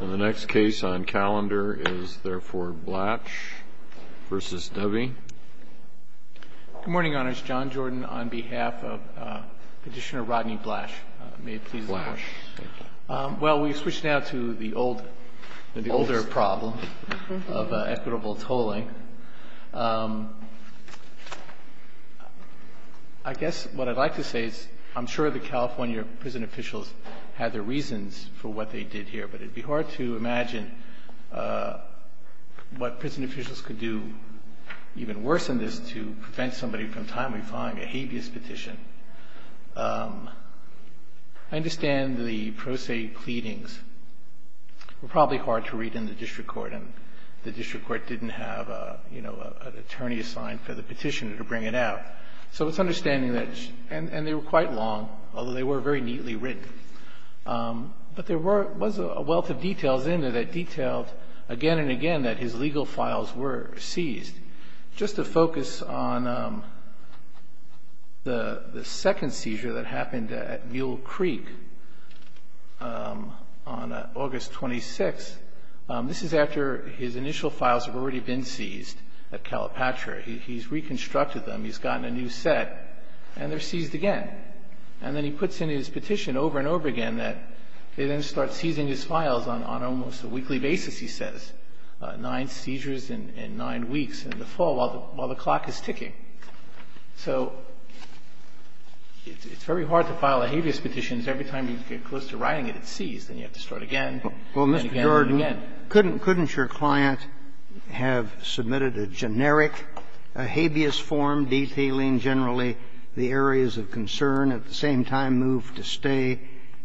And the next case on calendar is therefore Blach v. Dovey. Good morning, Your Honors. John Jordan on behalf of Petitioner Rodney Blach. May it please the Court. Blach. Thank you. Well, we switch now to the older problem of equitable tolling. I guess what I'd like to say is I'm sure the California prison officials had their reasons for what they did here, but it would be hard to imagine what prison officials could do even worse than this to prevent somebody from timely filing a habeas petition. I understand the pro se pleadings were probably hard to read in the district court, and the district court didn't have, you know, an attorney assigned for the petitioner to bring it out. So it's understanding that, and they were quite long, although they were very neatly written. But there was a wealth of details in there that detailed again and again that his legal files were seized. Just to focus on the second seizure that happened at Mule Creek on August 26th. This is after his initial files have already been seized at Calipatria. He's reconstructed them. He's gotten a new set, and they're seized again. And then he puts in his petition over and over again that they then start seizing his files on almost a weekly basis, he says. And he's got nine seizures in nine weeks, in the fall, while the clock is ticking. So it's very hard to file a habeas petition because every time you get close to writing it, it's seized, and you have to start again, and again, and again. Roberts, couldn't your client have submitted a generic habeas form detailing generally the areas of concern, at the same time move to stay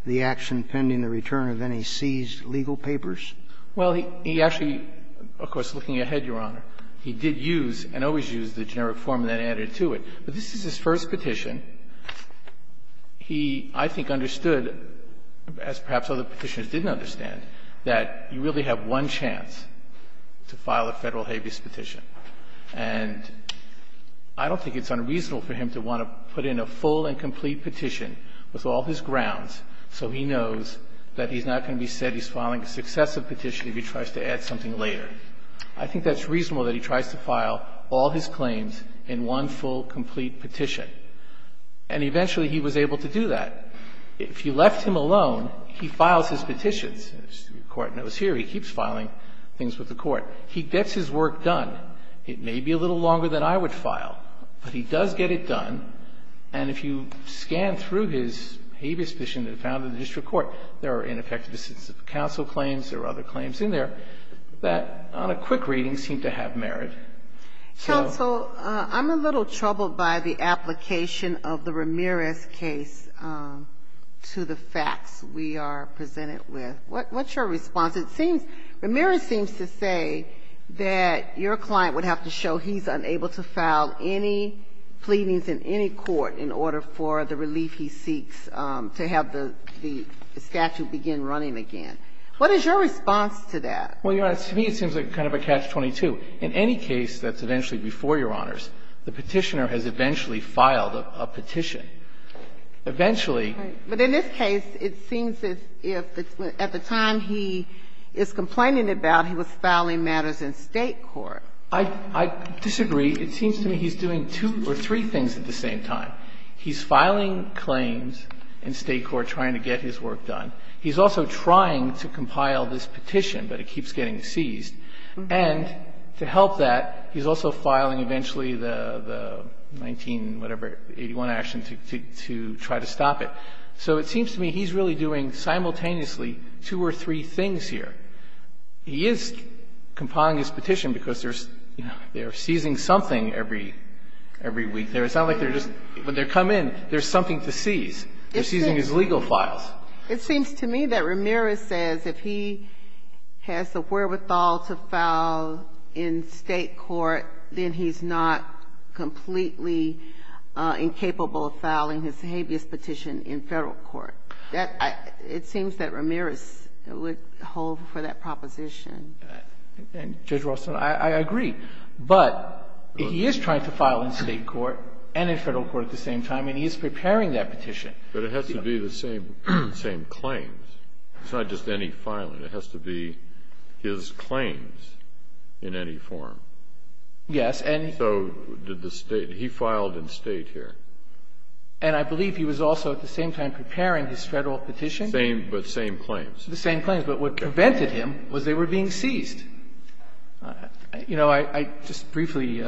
the action pending the return of any seized legal papers? Well, he actually, of course, looking ahead, Your Honor, he did use and always used the generic form that added to it. But this is his first petition. He, I think, understood, as perhaps other Petitioners didn't understand, that you really have one chance to file a Federal habeas petition. And I don't think it's unreasonable for him to want to put in a full and complete petition with all his grounds so he knows that he's not going to be said he's filing a successive petition if he tries to add something later. I think that's reasonable that he tries to file all his claims in one full, complete petition. And eventually, he was able to do that. If you left him alone, he files his petitions, as the Court knows here. He keeps filing things with the Court. He gets his work done. It may be a little longer than I would file, but he does get it done. And if you scan through his habeas petition that he found in the district court, there are ineffective decisions of counsel claims, there are other claims in there that, on a quick reading, seem to have merit. So so I'm a little troubled by the application of the Ramirez case to the facts we are presented with. What's your response? It seems, Ramirez seems to say that your client would have to show he's unable to file any pleadings in any court in order for the relief he seeks to have the, the statute begin running again. What is your response to that? Well, Your Honor, to me it seems like kind of a catch-22. In any case that's eventually before Your Honors, the petitioner has eventually filed a petition. Eventually. But in this case, it seems as if at the time he is complaining about, he was filing matters in State court. I disagree. It seems to me he's doing two or three things at the same time. He's filing claims in State court trying to get his work done. He's also trying to compile this petition, but it keeps getting seized. And to help that, he's also filing eventually the 19-whatever, 81 action to try to stop it. So it seems to me he's really doing simultaneously two or three things here. He is compiling his petition because there's, you know, they're seizing something every, every week. It's not like they're just, when they come in, there's something to seize. They're seizing his legal files. It seems to me that Ramirez says if he has the wherewithal to file in State court, then he's not completely incapable of filing his habeas petition in Federal court. That, it seems that Ramirez would hold for that proposition. Judge Ralston, I agree. But he is trying to file in State court and in Federal court at the same time, and he is preparing that petition. But it has to be the same claims. It's not just any filing. It has to be his claims in any form. Yes. And so did the State. He filed in State here. And I believe he was also at the same time preparing his Federal petition. Same, but same claims. The same claims. But what prevented him was they were being seized. You know, I just briefly,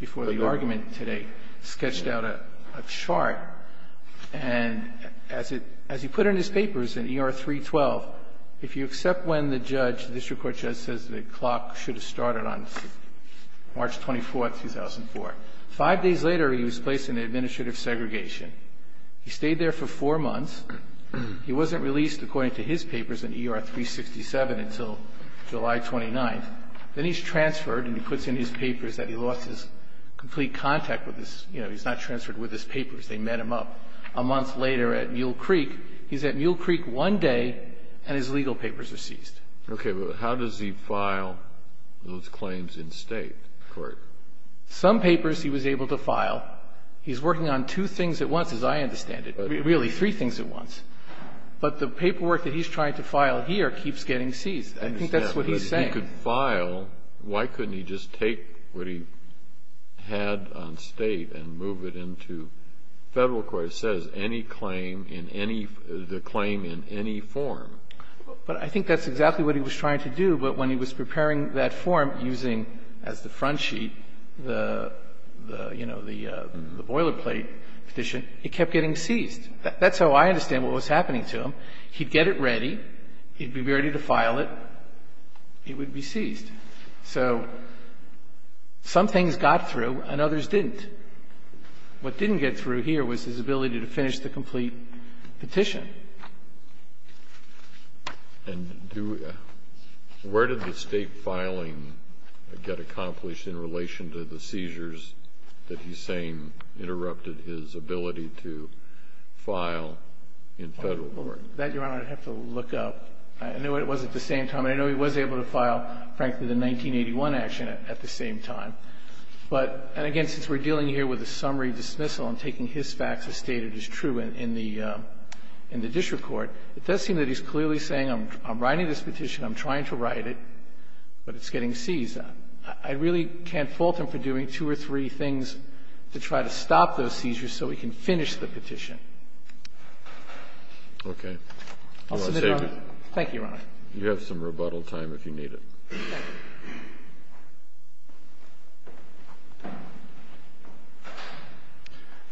before the argument today, sketched out a chart. And as he put in his papers in ER 312, if you accept when the judge, the district court judge, says the clock should have started on March 24th, 2004, 5 days later, he was placed in administrative segregation. He stayed there for 4 months. He wasn't released, according to his papers, in ER 367 until July 29th. Then he's transferred and he puts in his papers that he lost his complete contact with his – you know, he's not transferred with his papers. They met him up a month later at Mule Creek. He's at Mule Creek one day and his legal papers are seized. Okay. But how does he file those claims in State court? Some papers he was able to file. He's working on two things at once, as I understand it. Really, three things at once. But the paperwork that he's trying to file here keeps getting seized. I think that's what he's saying. He could file. Why couldn't he just take what he had on State and move it into Federal court? It says any claim in any – the claim in any form. But I think that's exactly what he was trying to do. But when he was preparing that form using, as the front sheet, the, you know, the boilerplate petition, it kept getting seized. That's how I understand what was happening to him. He'd get it ready. He'd be ready to file it. It would be seized. So some things got through and others didn't. What didn't get through here was his ability to finish the complete petition. And do – where did the State filing get accomplished in relation to the seizures that he's saying interrupted his ability to file in Federal court? That, Your Honor, I'd have to look up. I know it was at the same time. I know he was able to file, frankly, the 1981 action at the same time. But – and again, since we're dealing here with a summary dismissal and taking his facts as stated as true in the district court, it does seem that he's clearly saying, I'm writing this petition, I'm trying to write it, but it's getting seized. I really can't fault him for doing two or three things to try to stop those seizures so he can finish the petition. Okay. I'll submit it, Your Honor. Thank you, Your Honor. You have some rebuttal time if you need it. Thank you.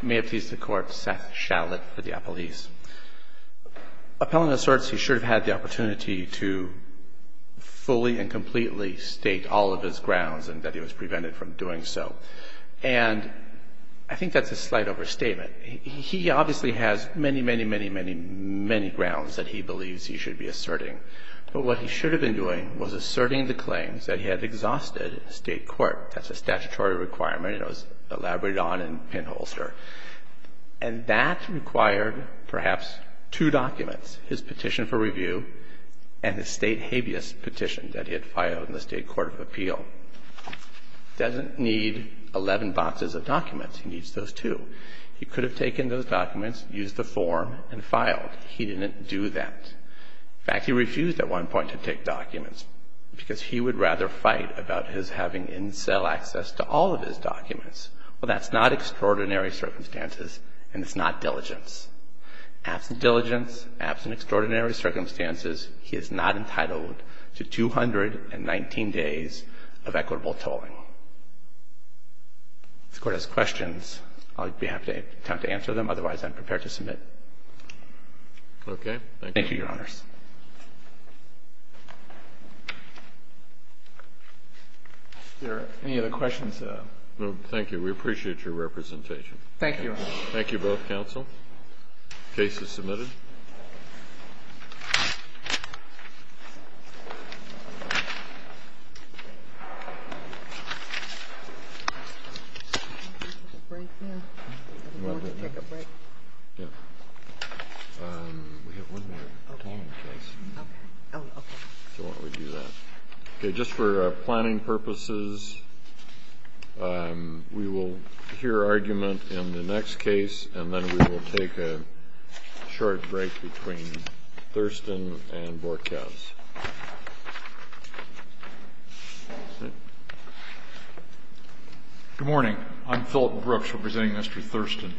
May it please the Court. Seth Shalit for the Appellees. Appellant asserts he should have had the opportunity to fully and completely state all of his grounds and that he was prevented from doing so. And I think that's a slight overstatement. He obviously has many, many, many, many, many grounds that he believes he should be asserting. But what he should have been doing was asserting the claims that he had exhausted state court. That's a statutory requirement. It was elaborated on in pinholster. And that required perhaps two documents, his petition for review and his state habeas petition that he had filed in the state court of appeal. He doesn't need 11 boxes of documents. He needs those two. He could have taken those documents, used the form and filed. He didn't do that. In fact, he refused at one point to take documents because he would rather fight about his having in cell access to all of his documents. Well, that's not extraordinary circumstances and it's not diligence. Absent diligence, absent extraordinary circumstances, he is not entitled to 219 days of equitable tolling. If the Court has questions, I'll be happy to attempt to answer them. Otherwise, I'm prepared to submit. Thank you, Your Honors. Any other questions? Thank you. We appreciate your representation. Thank you. Thank you both, counsel. Case is submitted. Just for planning purposes, we will hear argument in the next case and then we will take a short break between Thurston and Borkhouse. Good morning. I'm Phillip Brooks representing Mr. Thurston.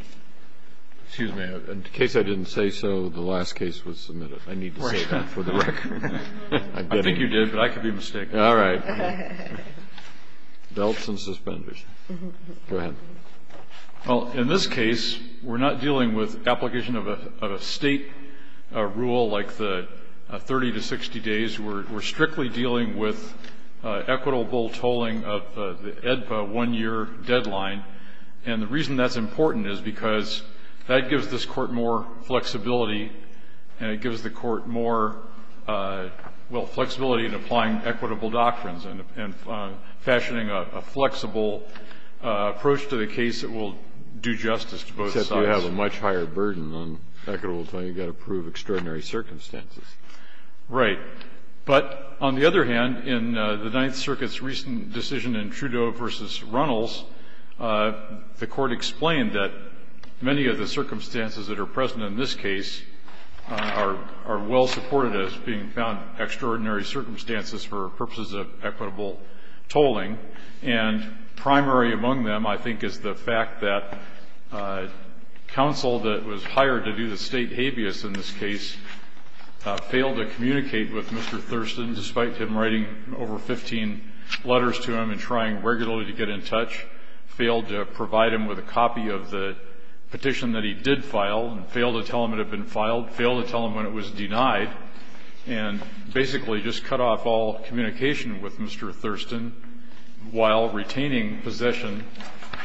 Excuse me. In case I didn't say so, the last case was submitted. I need to say that for the record. I think you did, but I could be mistaken. All right. Belts and suspenders. Go ahead. Well, in this case, we're not dealing with application of a state rule like the 30 to 60 days. We're strictly dealing with equitable tolling of the EDPA one-year deadline. And the reason that's important is because that gives this Court more flexibility and it gives the Court more, well, flexibility in applying equitable doctrines and fashioning a flexible approach to the case that will do justice to both sides. Except you have a much higher burden on equitable tolling. You've got to prove extraordinary circumstances. Right. But on the other hand, in the Ninth Circuit's recent decision in Trudeau v. Runnels, the Court explained that many of the circumstances that are present in this case are well supported as being found extraordinary circumstances for purposes of equitable tolling. And primary among them, I think, is the fact that counsel that was hired to do the state habeas in this case failed to communicate with Mr. Thurston despite him writing over 15 letters to him and trying regularly to get in touch, failed to provide him with a copy of the petition that he did file, and failed to tell him it had been filed, failed to tell him when it was denied, and basically just cut off all communication with Mr. Thurston while retaining possession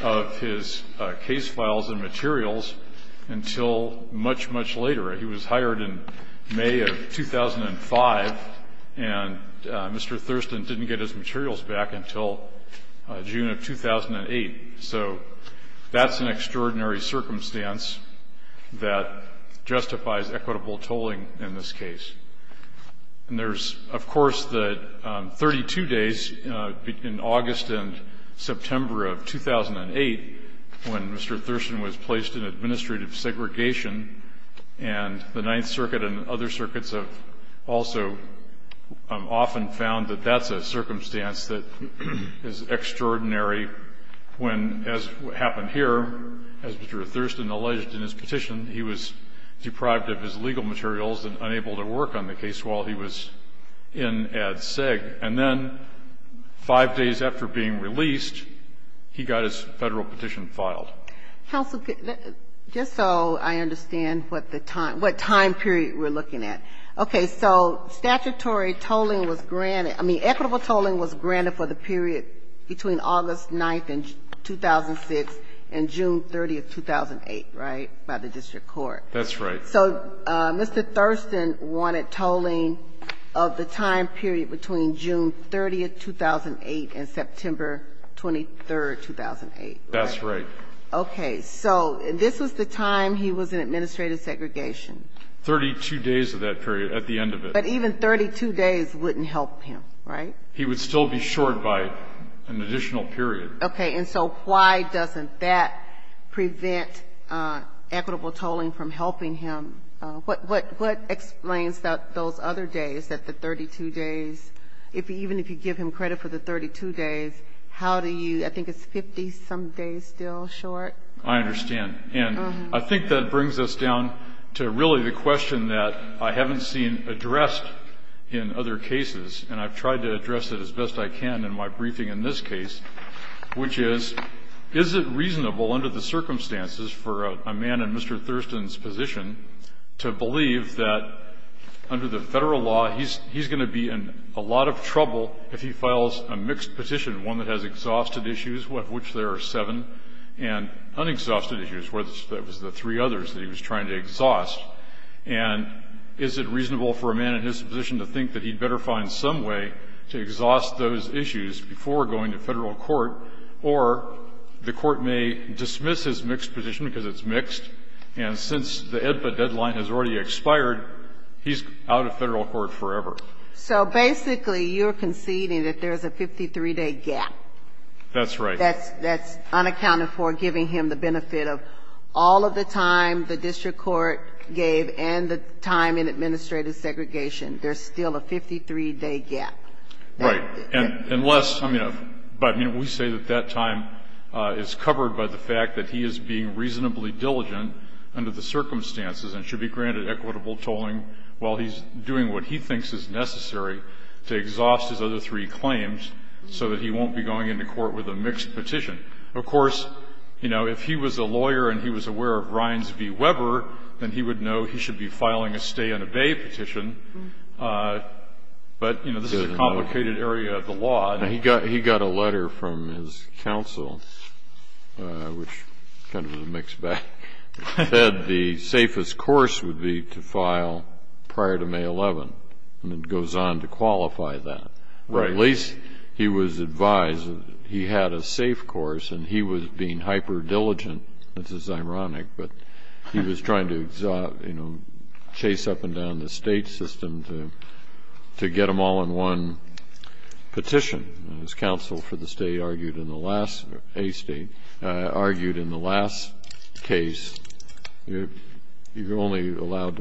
of his case files and materials until much, much later. He was hired in May of 2005, and Mr. Thurston didn't get his materials back until June of 2008. So that's an extraordinary circumstance that justifies equitable tolling in this case. And there's, of course, the 32 days in August and September of 2008 when Mr. Thurston was placed in administrative segregation. And the Ninth Circuit and other circuits have also often found that that's a circumstance that is extraordinary when, as happened here, as Mr. Thurston alleged in his petition, he was deprived of his legal materials and unable to work on the case while he was in Ad Seg. And then five days after being released, he got his Federal petition filed. Counsel, just so I understand what the time period we're looking at. Okay. So statutory tolling was granted. I mean, equitable tolling was granted for the period between August 9th and 2006 and June 30th, 2008, right? By the district court. That's right. So Mr. Thurston wanted tolling of the time period between June 30th, 2008 and September 23rd, 2008, right? That's right. Okay. So this was the time he was in administrative segregation. Thirty-two days of that period at the end of it. But even 32 days wouldn't help him, right? He would still be short by an additional period. Okay. And so why doesn't that prevent equitable tolling from helping him? What explains that those other days, that the 32 days, even if you give him credit for the 32 days, how do you, I think it's 50-some days still short? I understand. And I think that brings us down to really the question that I haven't seen addressed in other cases. And I've tried to address it as best I can in my briefing in this case. Which is, is it reasonable under the circumstances for a man in Mr. Thurston's position to believe that under the Federal law he's going to be in a lot of trouble if he files a mixed petition, one that has exhausted issues, of which there are seven, and unexhausted issues, that was the three others that he was trying to exhaust? And is it reasonable for a man in his position to think that he'd better find some way to exhaust those issues before going to Federal court? Or the court may dismiss his mixed petition because it's mixed, and since the EDPA deadline has already expired, he's out of Federal court forever. So basically, you're conceding that there's a 53-day gap. That's right. That's unaccounted for, giving him the benefit of all of the time the district court gave and the time in administrative segregation. There's still a 53-day gap. Right. And unless, I mean, we say that that time is covered by the fact that he is being reasonably diligent under the circumstances and should be granted equitable tolling while he's doing what he thinks is necessary to exhaust his other three claims so that he won't be going into court with a mixed petition. Of course, you know, if he was a lawyer and he was aware of Ryans v. Weber, then he would know he should be filing a stay and obey petition. But, you know, this is a complicated area of the law. And he got a letter from his counsel, which kind of was a mixed bag, that said the safest course would be to file prior to May 11, and it goes on to qualify that. Right. At least he was advised that he had a safe course and he was being hyper-diligent, which is ironic, but he was trying to, you know, chase up and down the state system to get them all in one petition. His counsel for the state argued in the last, or a state, argued in the last case, you're Right. And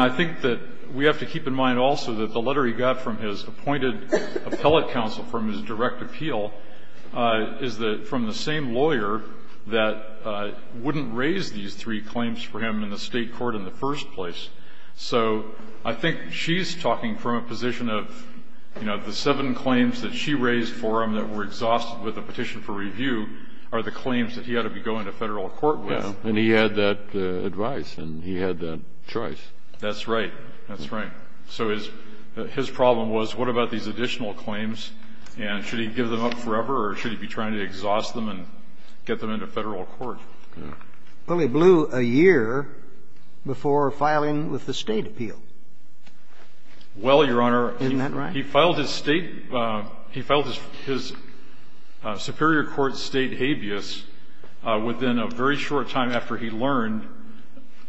I think that we have to keep in mind also that the letter he got from his appointed appellate counsel from his direct appeal is from the same lawyer that wouldn't raise these three claims for him in the state court in the first place. So I think she's talking from a position of, you know, the seven claims that she raised for him that were exhausted with a petition for review are the claims that he ought to be going to federal court with. And he had that advice and he had that choice. That's right. That's right. So his problem was, what about these additional claims, and should he give them up forever or should he be trying to exhaust them and get them into federal court? Well, he blew a year before filing with the state appeal. Well, Your Honor, he filed his state – he filed his superior court state habeas within a very short time after he learned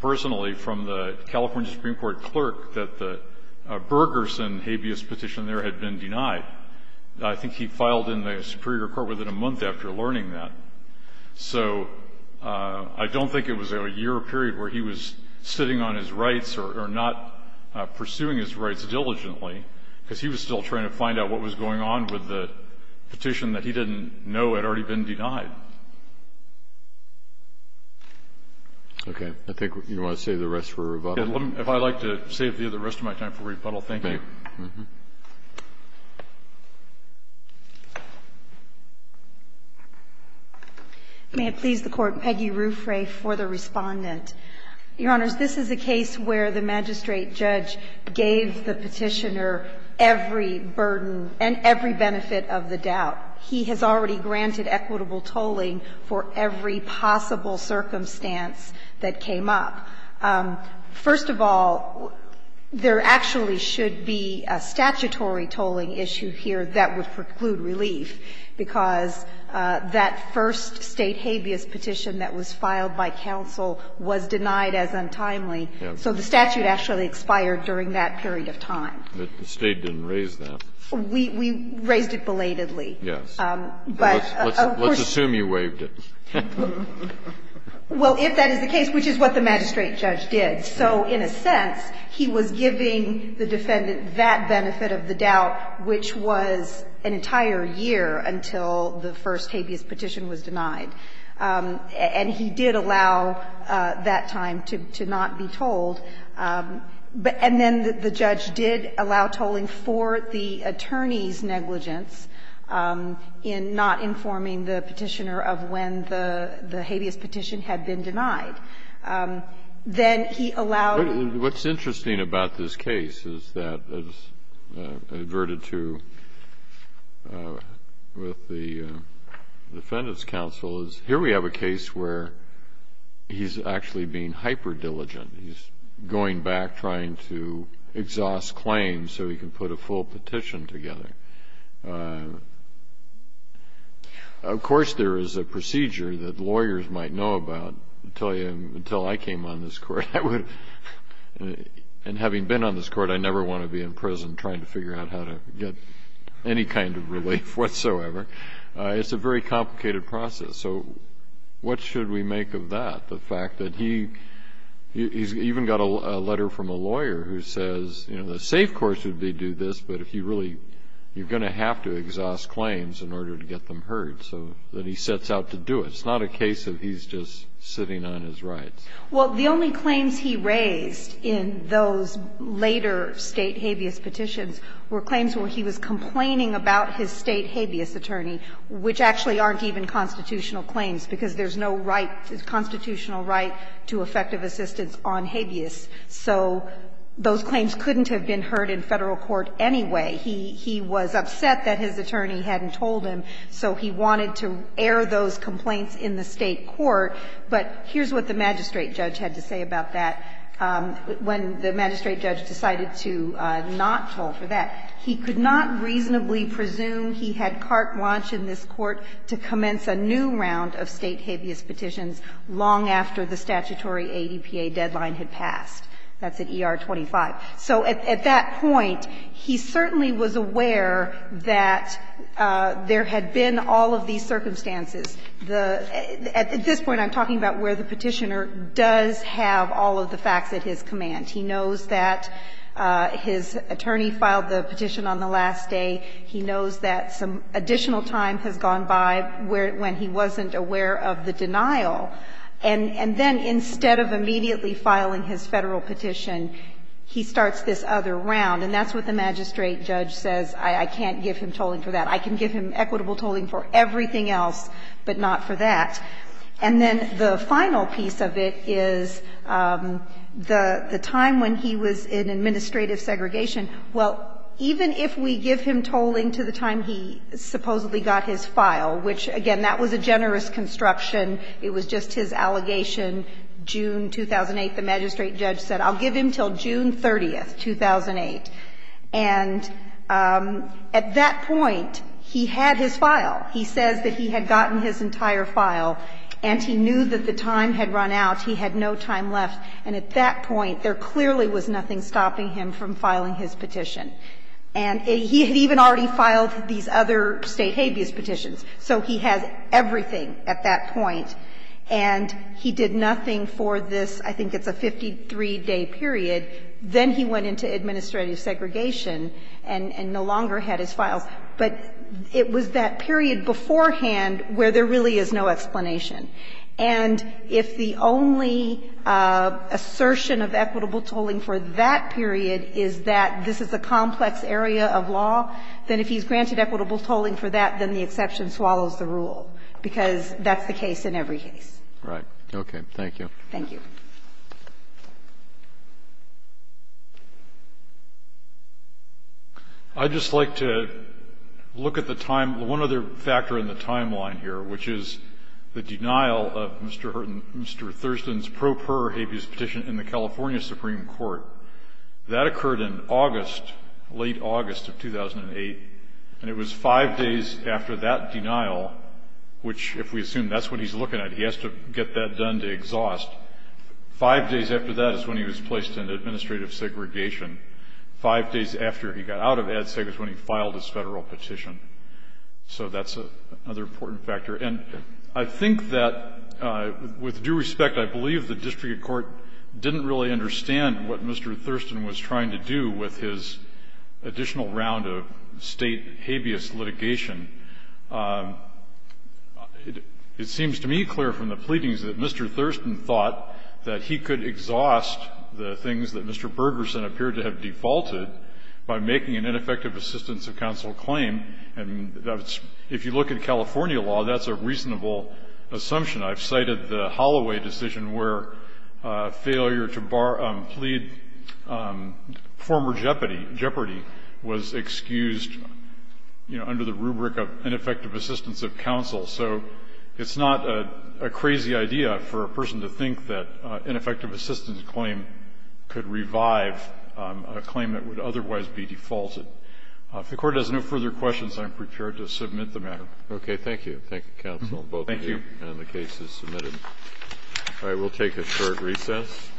personally from the California Supreme Court clerk that the Bergersen habeas petition there had been denied. I think he filed in the superior court within a month after learning that. So I don't think it was a year period where he was sitting on his rights or not pursuing his rights diligently, because he was still trying to find out what was going on with the petition that he didn't know had already been denied. Okay. I think you want to save the rest for rebuttal. If I'd like to save the rest of my time for rebuttal, thank you. May I please the Court? Peggy Ruffray for the Respondent. Your Honors, this is a case where the magistrate judge gave the petitioner every burden and every benefit of the doubt. He has already granted equitable tolling for every possible circumstance that came up. First of all, there actually should be a statutory tolling issue here that would preclude relief, because that first state habeas petition that was filed by counsel was denied as untimely, so the statute actually expired during that period of time. But the State didn't raise that. We raised it belatedly. Yes. But of course Let's assume you waived it. Well, if that is the case, which is what the magistrate judge did. So in a sense, he was giving the defendant that benefit of the doubt, which was an entire year until the first habeas petition was denied. And he did allow that time to not be tolled. And then the judge did allow tolling for the attorney's negligence in not informing the petitioner of when the habeas petition had been denied. Then he allowed. What's interesting about this case is that, as adverted to with the Defendant's Counsel, is here we have a case where he's actually being hyperdiligent. He's going back, trying to exhaust claims so he can put a full petition together. Of course, there is a procedure that lawyers might know about. I'll tell you, until I came on this court, I would, and having been on this court, I never want to be in prison trying to figure out how to get any kind of relief whatsoever. It's a very complicated process. So what should we make of that? And I think it's interesting that the defense has been very clear about the fact that he's even got a letter from a lawyer who says, you know, the safe course would be do this, but if you really, you're going to have to exhaust claims in order to get them heard. So then he sets out to do it. It's not a case of he's just sitting on his rights. Well, the only claims he raised in those later State habeas petitions were claims where he was complaining about his State habeas attorney, which actually aren't even constitutional claims, because there's no right, constitutional right to effective assistance on habeas. So those claims couldn't have been heard in Federal court anyway. He was upset that his attorney hadn't told him, so he wanted to air those complaints in the State court. But here's what the magistrate judge had to say about that when the magistrate judge decided to not toll for that. He could not reasonably presume he had carte blanche in this court to commence a new round of State habeas petitions long after the statutory ADPA deadline had passed. That's at ER 25. So at that point, he certainly was aware that there had been all of these circumstances. At this point, I'm talking about where the Petitioner does have all of the facts at his command. He knows that his attorney filed the petition on the last day. He knows that some additional time has gone by when he wasn't aware of the denial. And then instead of immediately filing his Federal petition, he starts this other round, and that's what the magistrate judge says, I can't give him tolling for that. I can give him equitable tolling for everything else, but not for that. And then the final piece of it is the time when he was in administrative segregation. Well, even if we give him tolling to the time he supposedly got his file, which, again, that was a generous construction. It was just his allegation, June 2008, the magistrate judge said, I'll give him until June 30, 2008. And at that point, he had his file. He says that he had gotten his entire file, and he knew that the time had run out. He had no time left. And at that point, there clearly was nothing stopping him from filing his petition. And he had even already filed these other State habeas petitions. So he has everything at that point. And he did nothing for this, I think it's a 53-day period. Then he went into administrative segregation and no longer had his files. But it was that period beforehand where there really is no explanation. And if the only assertion of equitable tolling for that period is that this is a complex area of law, then if he's granted equitable tolling for that, then the exception swallows the rule, because that's the case in every case. Right. Okay. Thank you. Thank you. I'd just like to look at the time. One other factor in the timeline here, which is the denial of Mr. Thurston's pro per habeas petition in the California Supreme Court. That occurred in August, late August of 2008. And it was five days after that denial, which if we assume that's what he's looking at, he has to get that done to exhaust. Five days after that is when he was placed in administrative segregation. Five days after he got out of ADSEG is when he filed his Federal petition. So that's another important factor. And I think that, with due respect, I believe the district court didn't really understand what Mr. Thurston was trying to do with his additional round of State habeas litigation. It seems to me clear from the pleadings that Mr. Thurston thought that he could exhaust the things that Mr. Bergerson appeared to have defaulted by making an ineffective assistance of counsel claim. And if you look at California law, that's a reasonable assumption. I've cited the Holloway decision where failure to plead former jeopardy was excused, you know, under the rubric of ineffective assistance of counsel. So it's not a crazy idea for a person to think that ineffective assistance claim could revive a claim that would otherwise be defaulted. If the Court has no further questions, I'm prepared to submit the matter. Kennedy. Okay. Thank you. Thank you, counsel, both of you. Thank you. And the case is submitted. All right. We'll take a short recess. Thank you.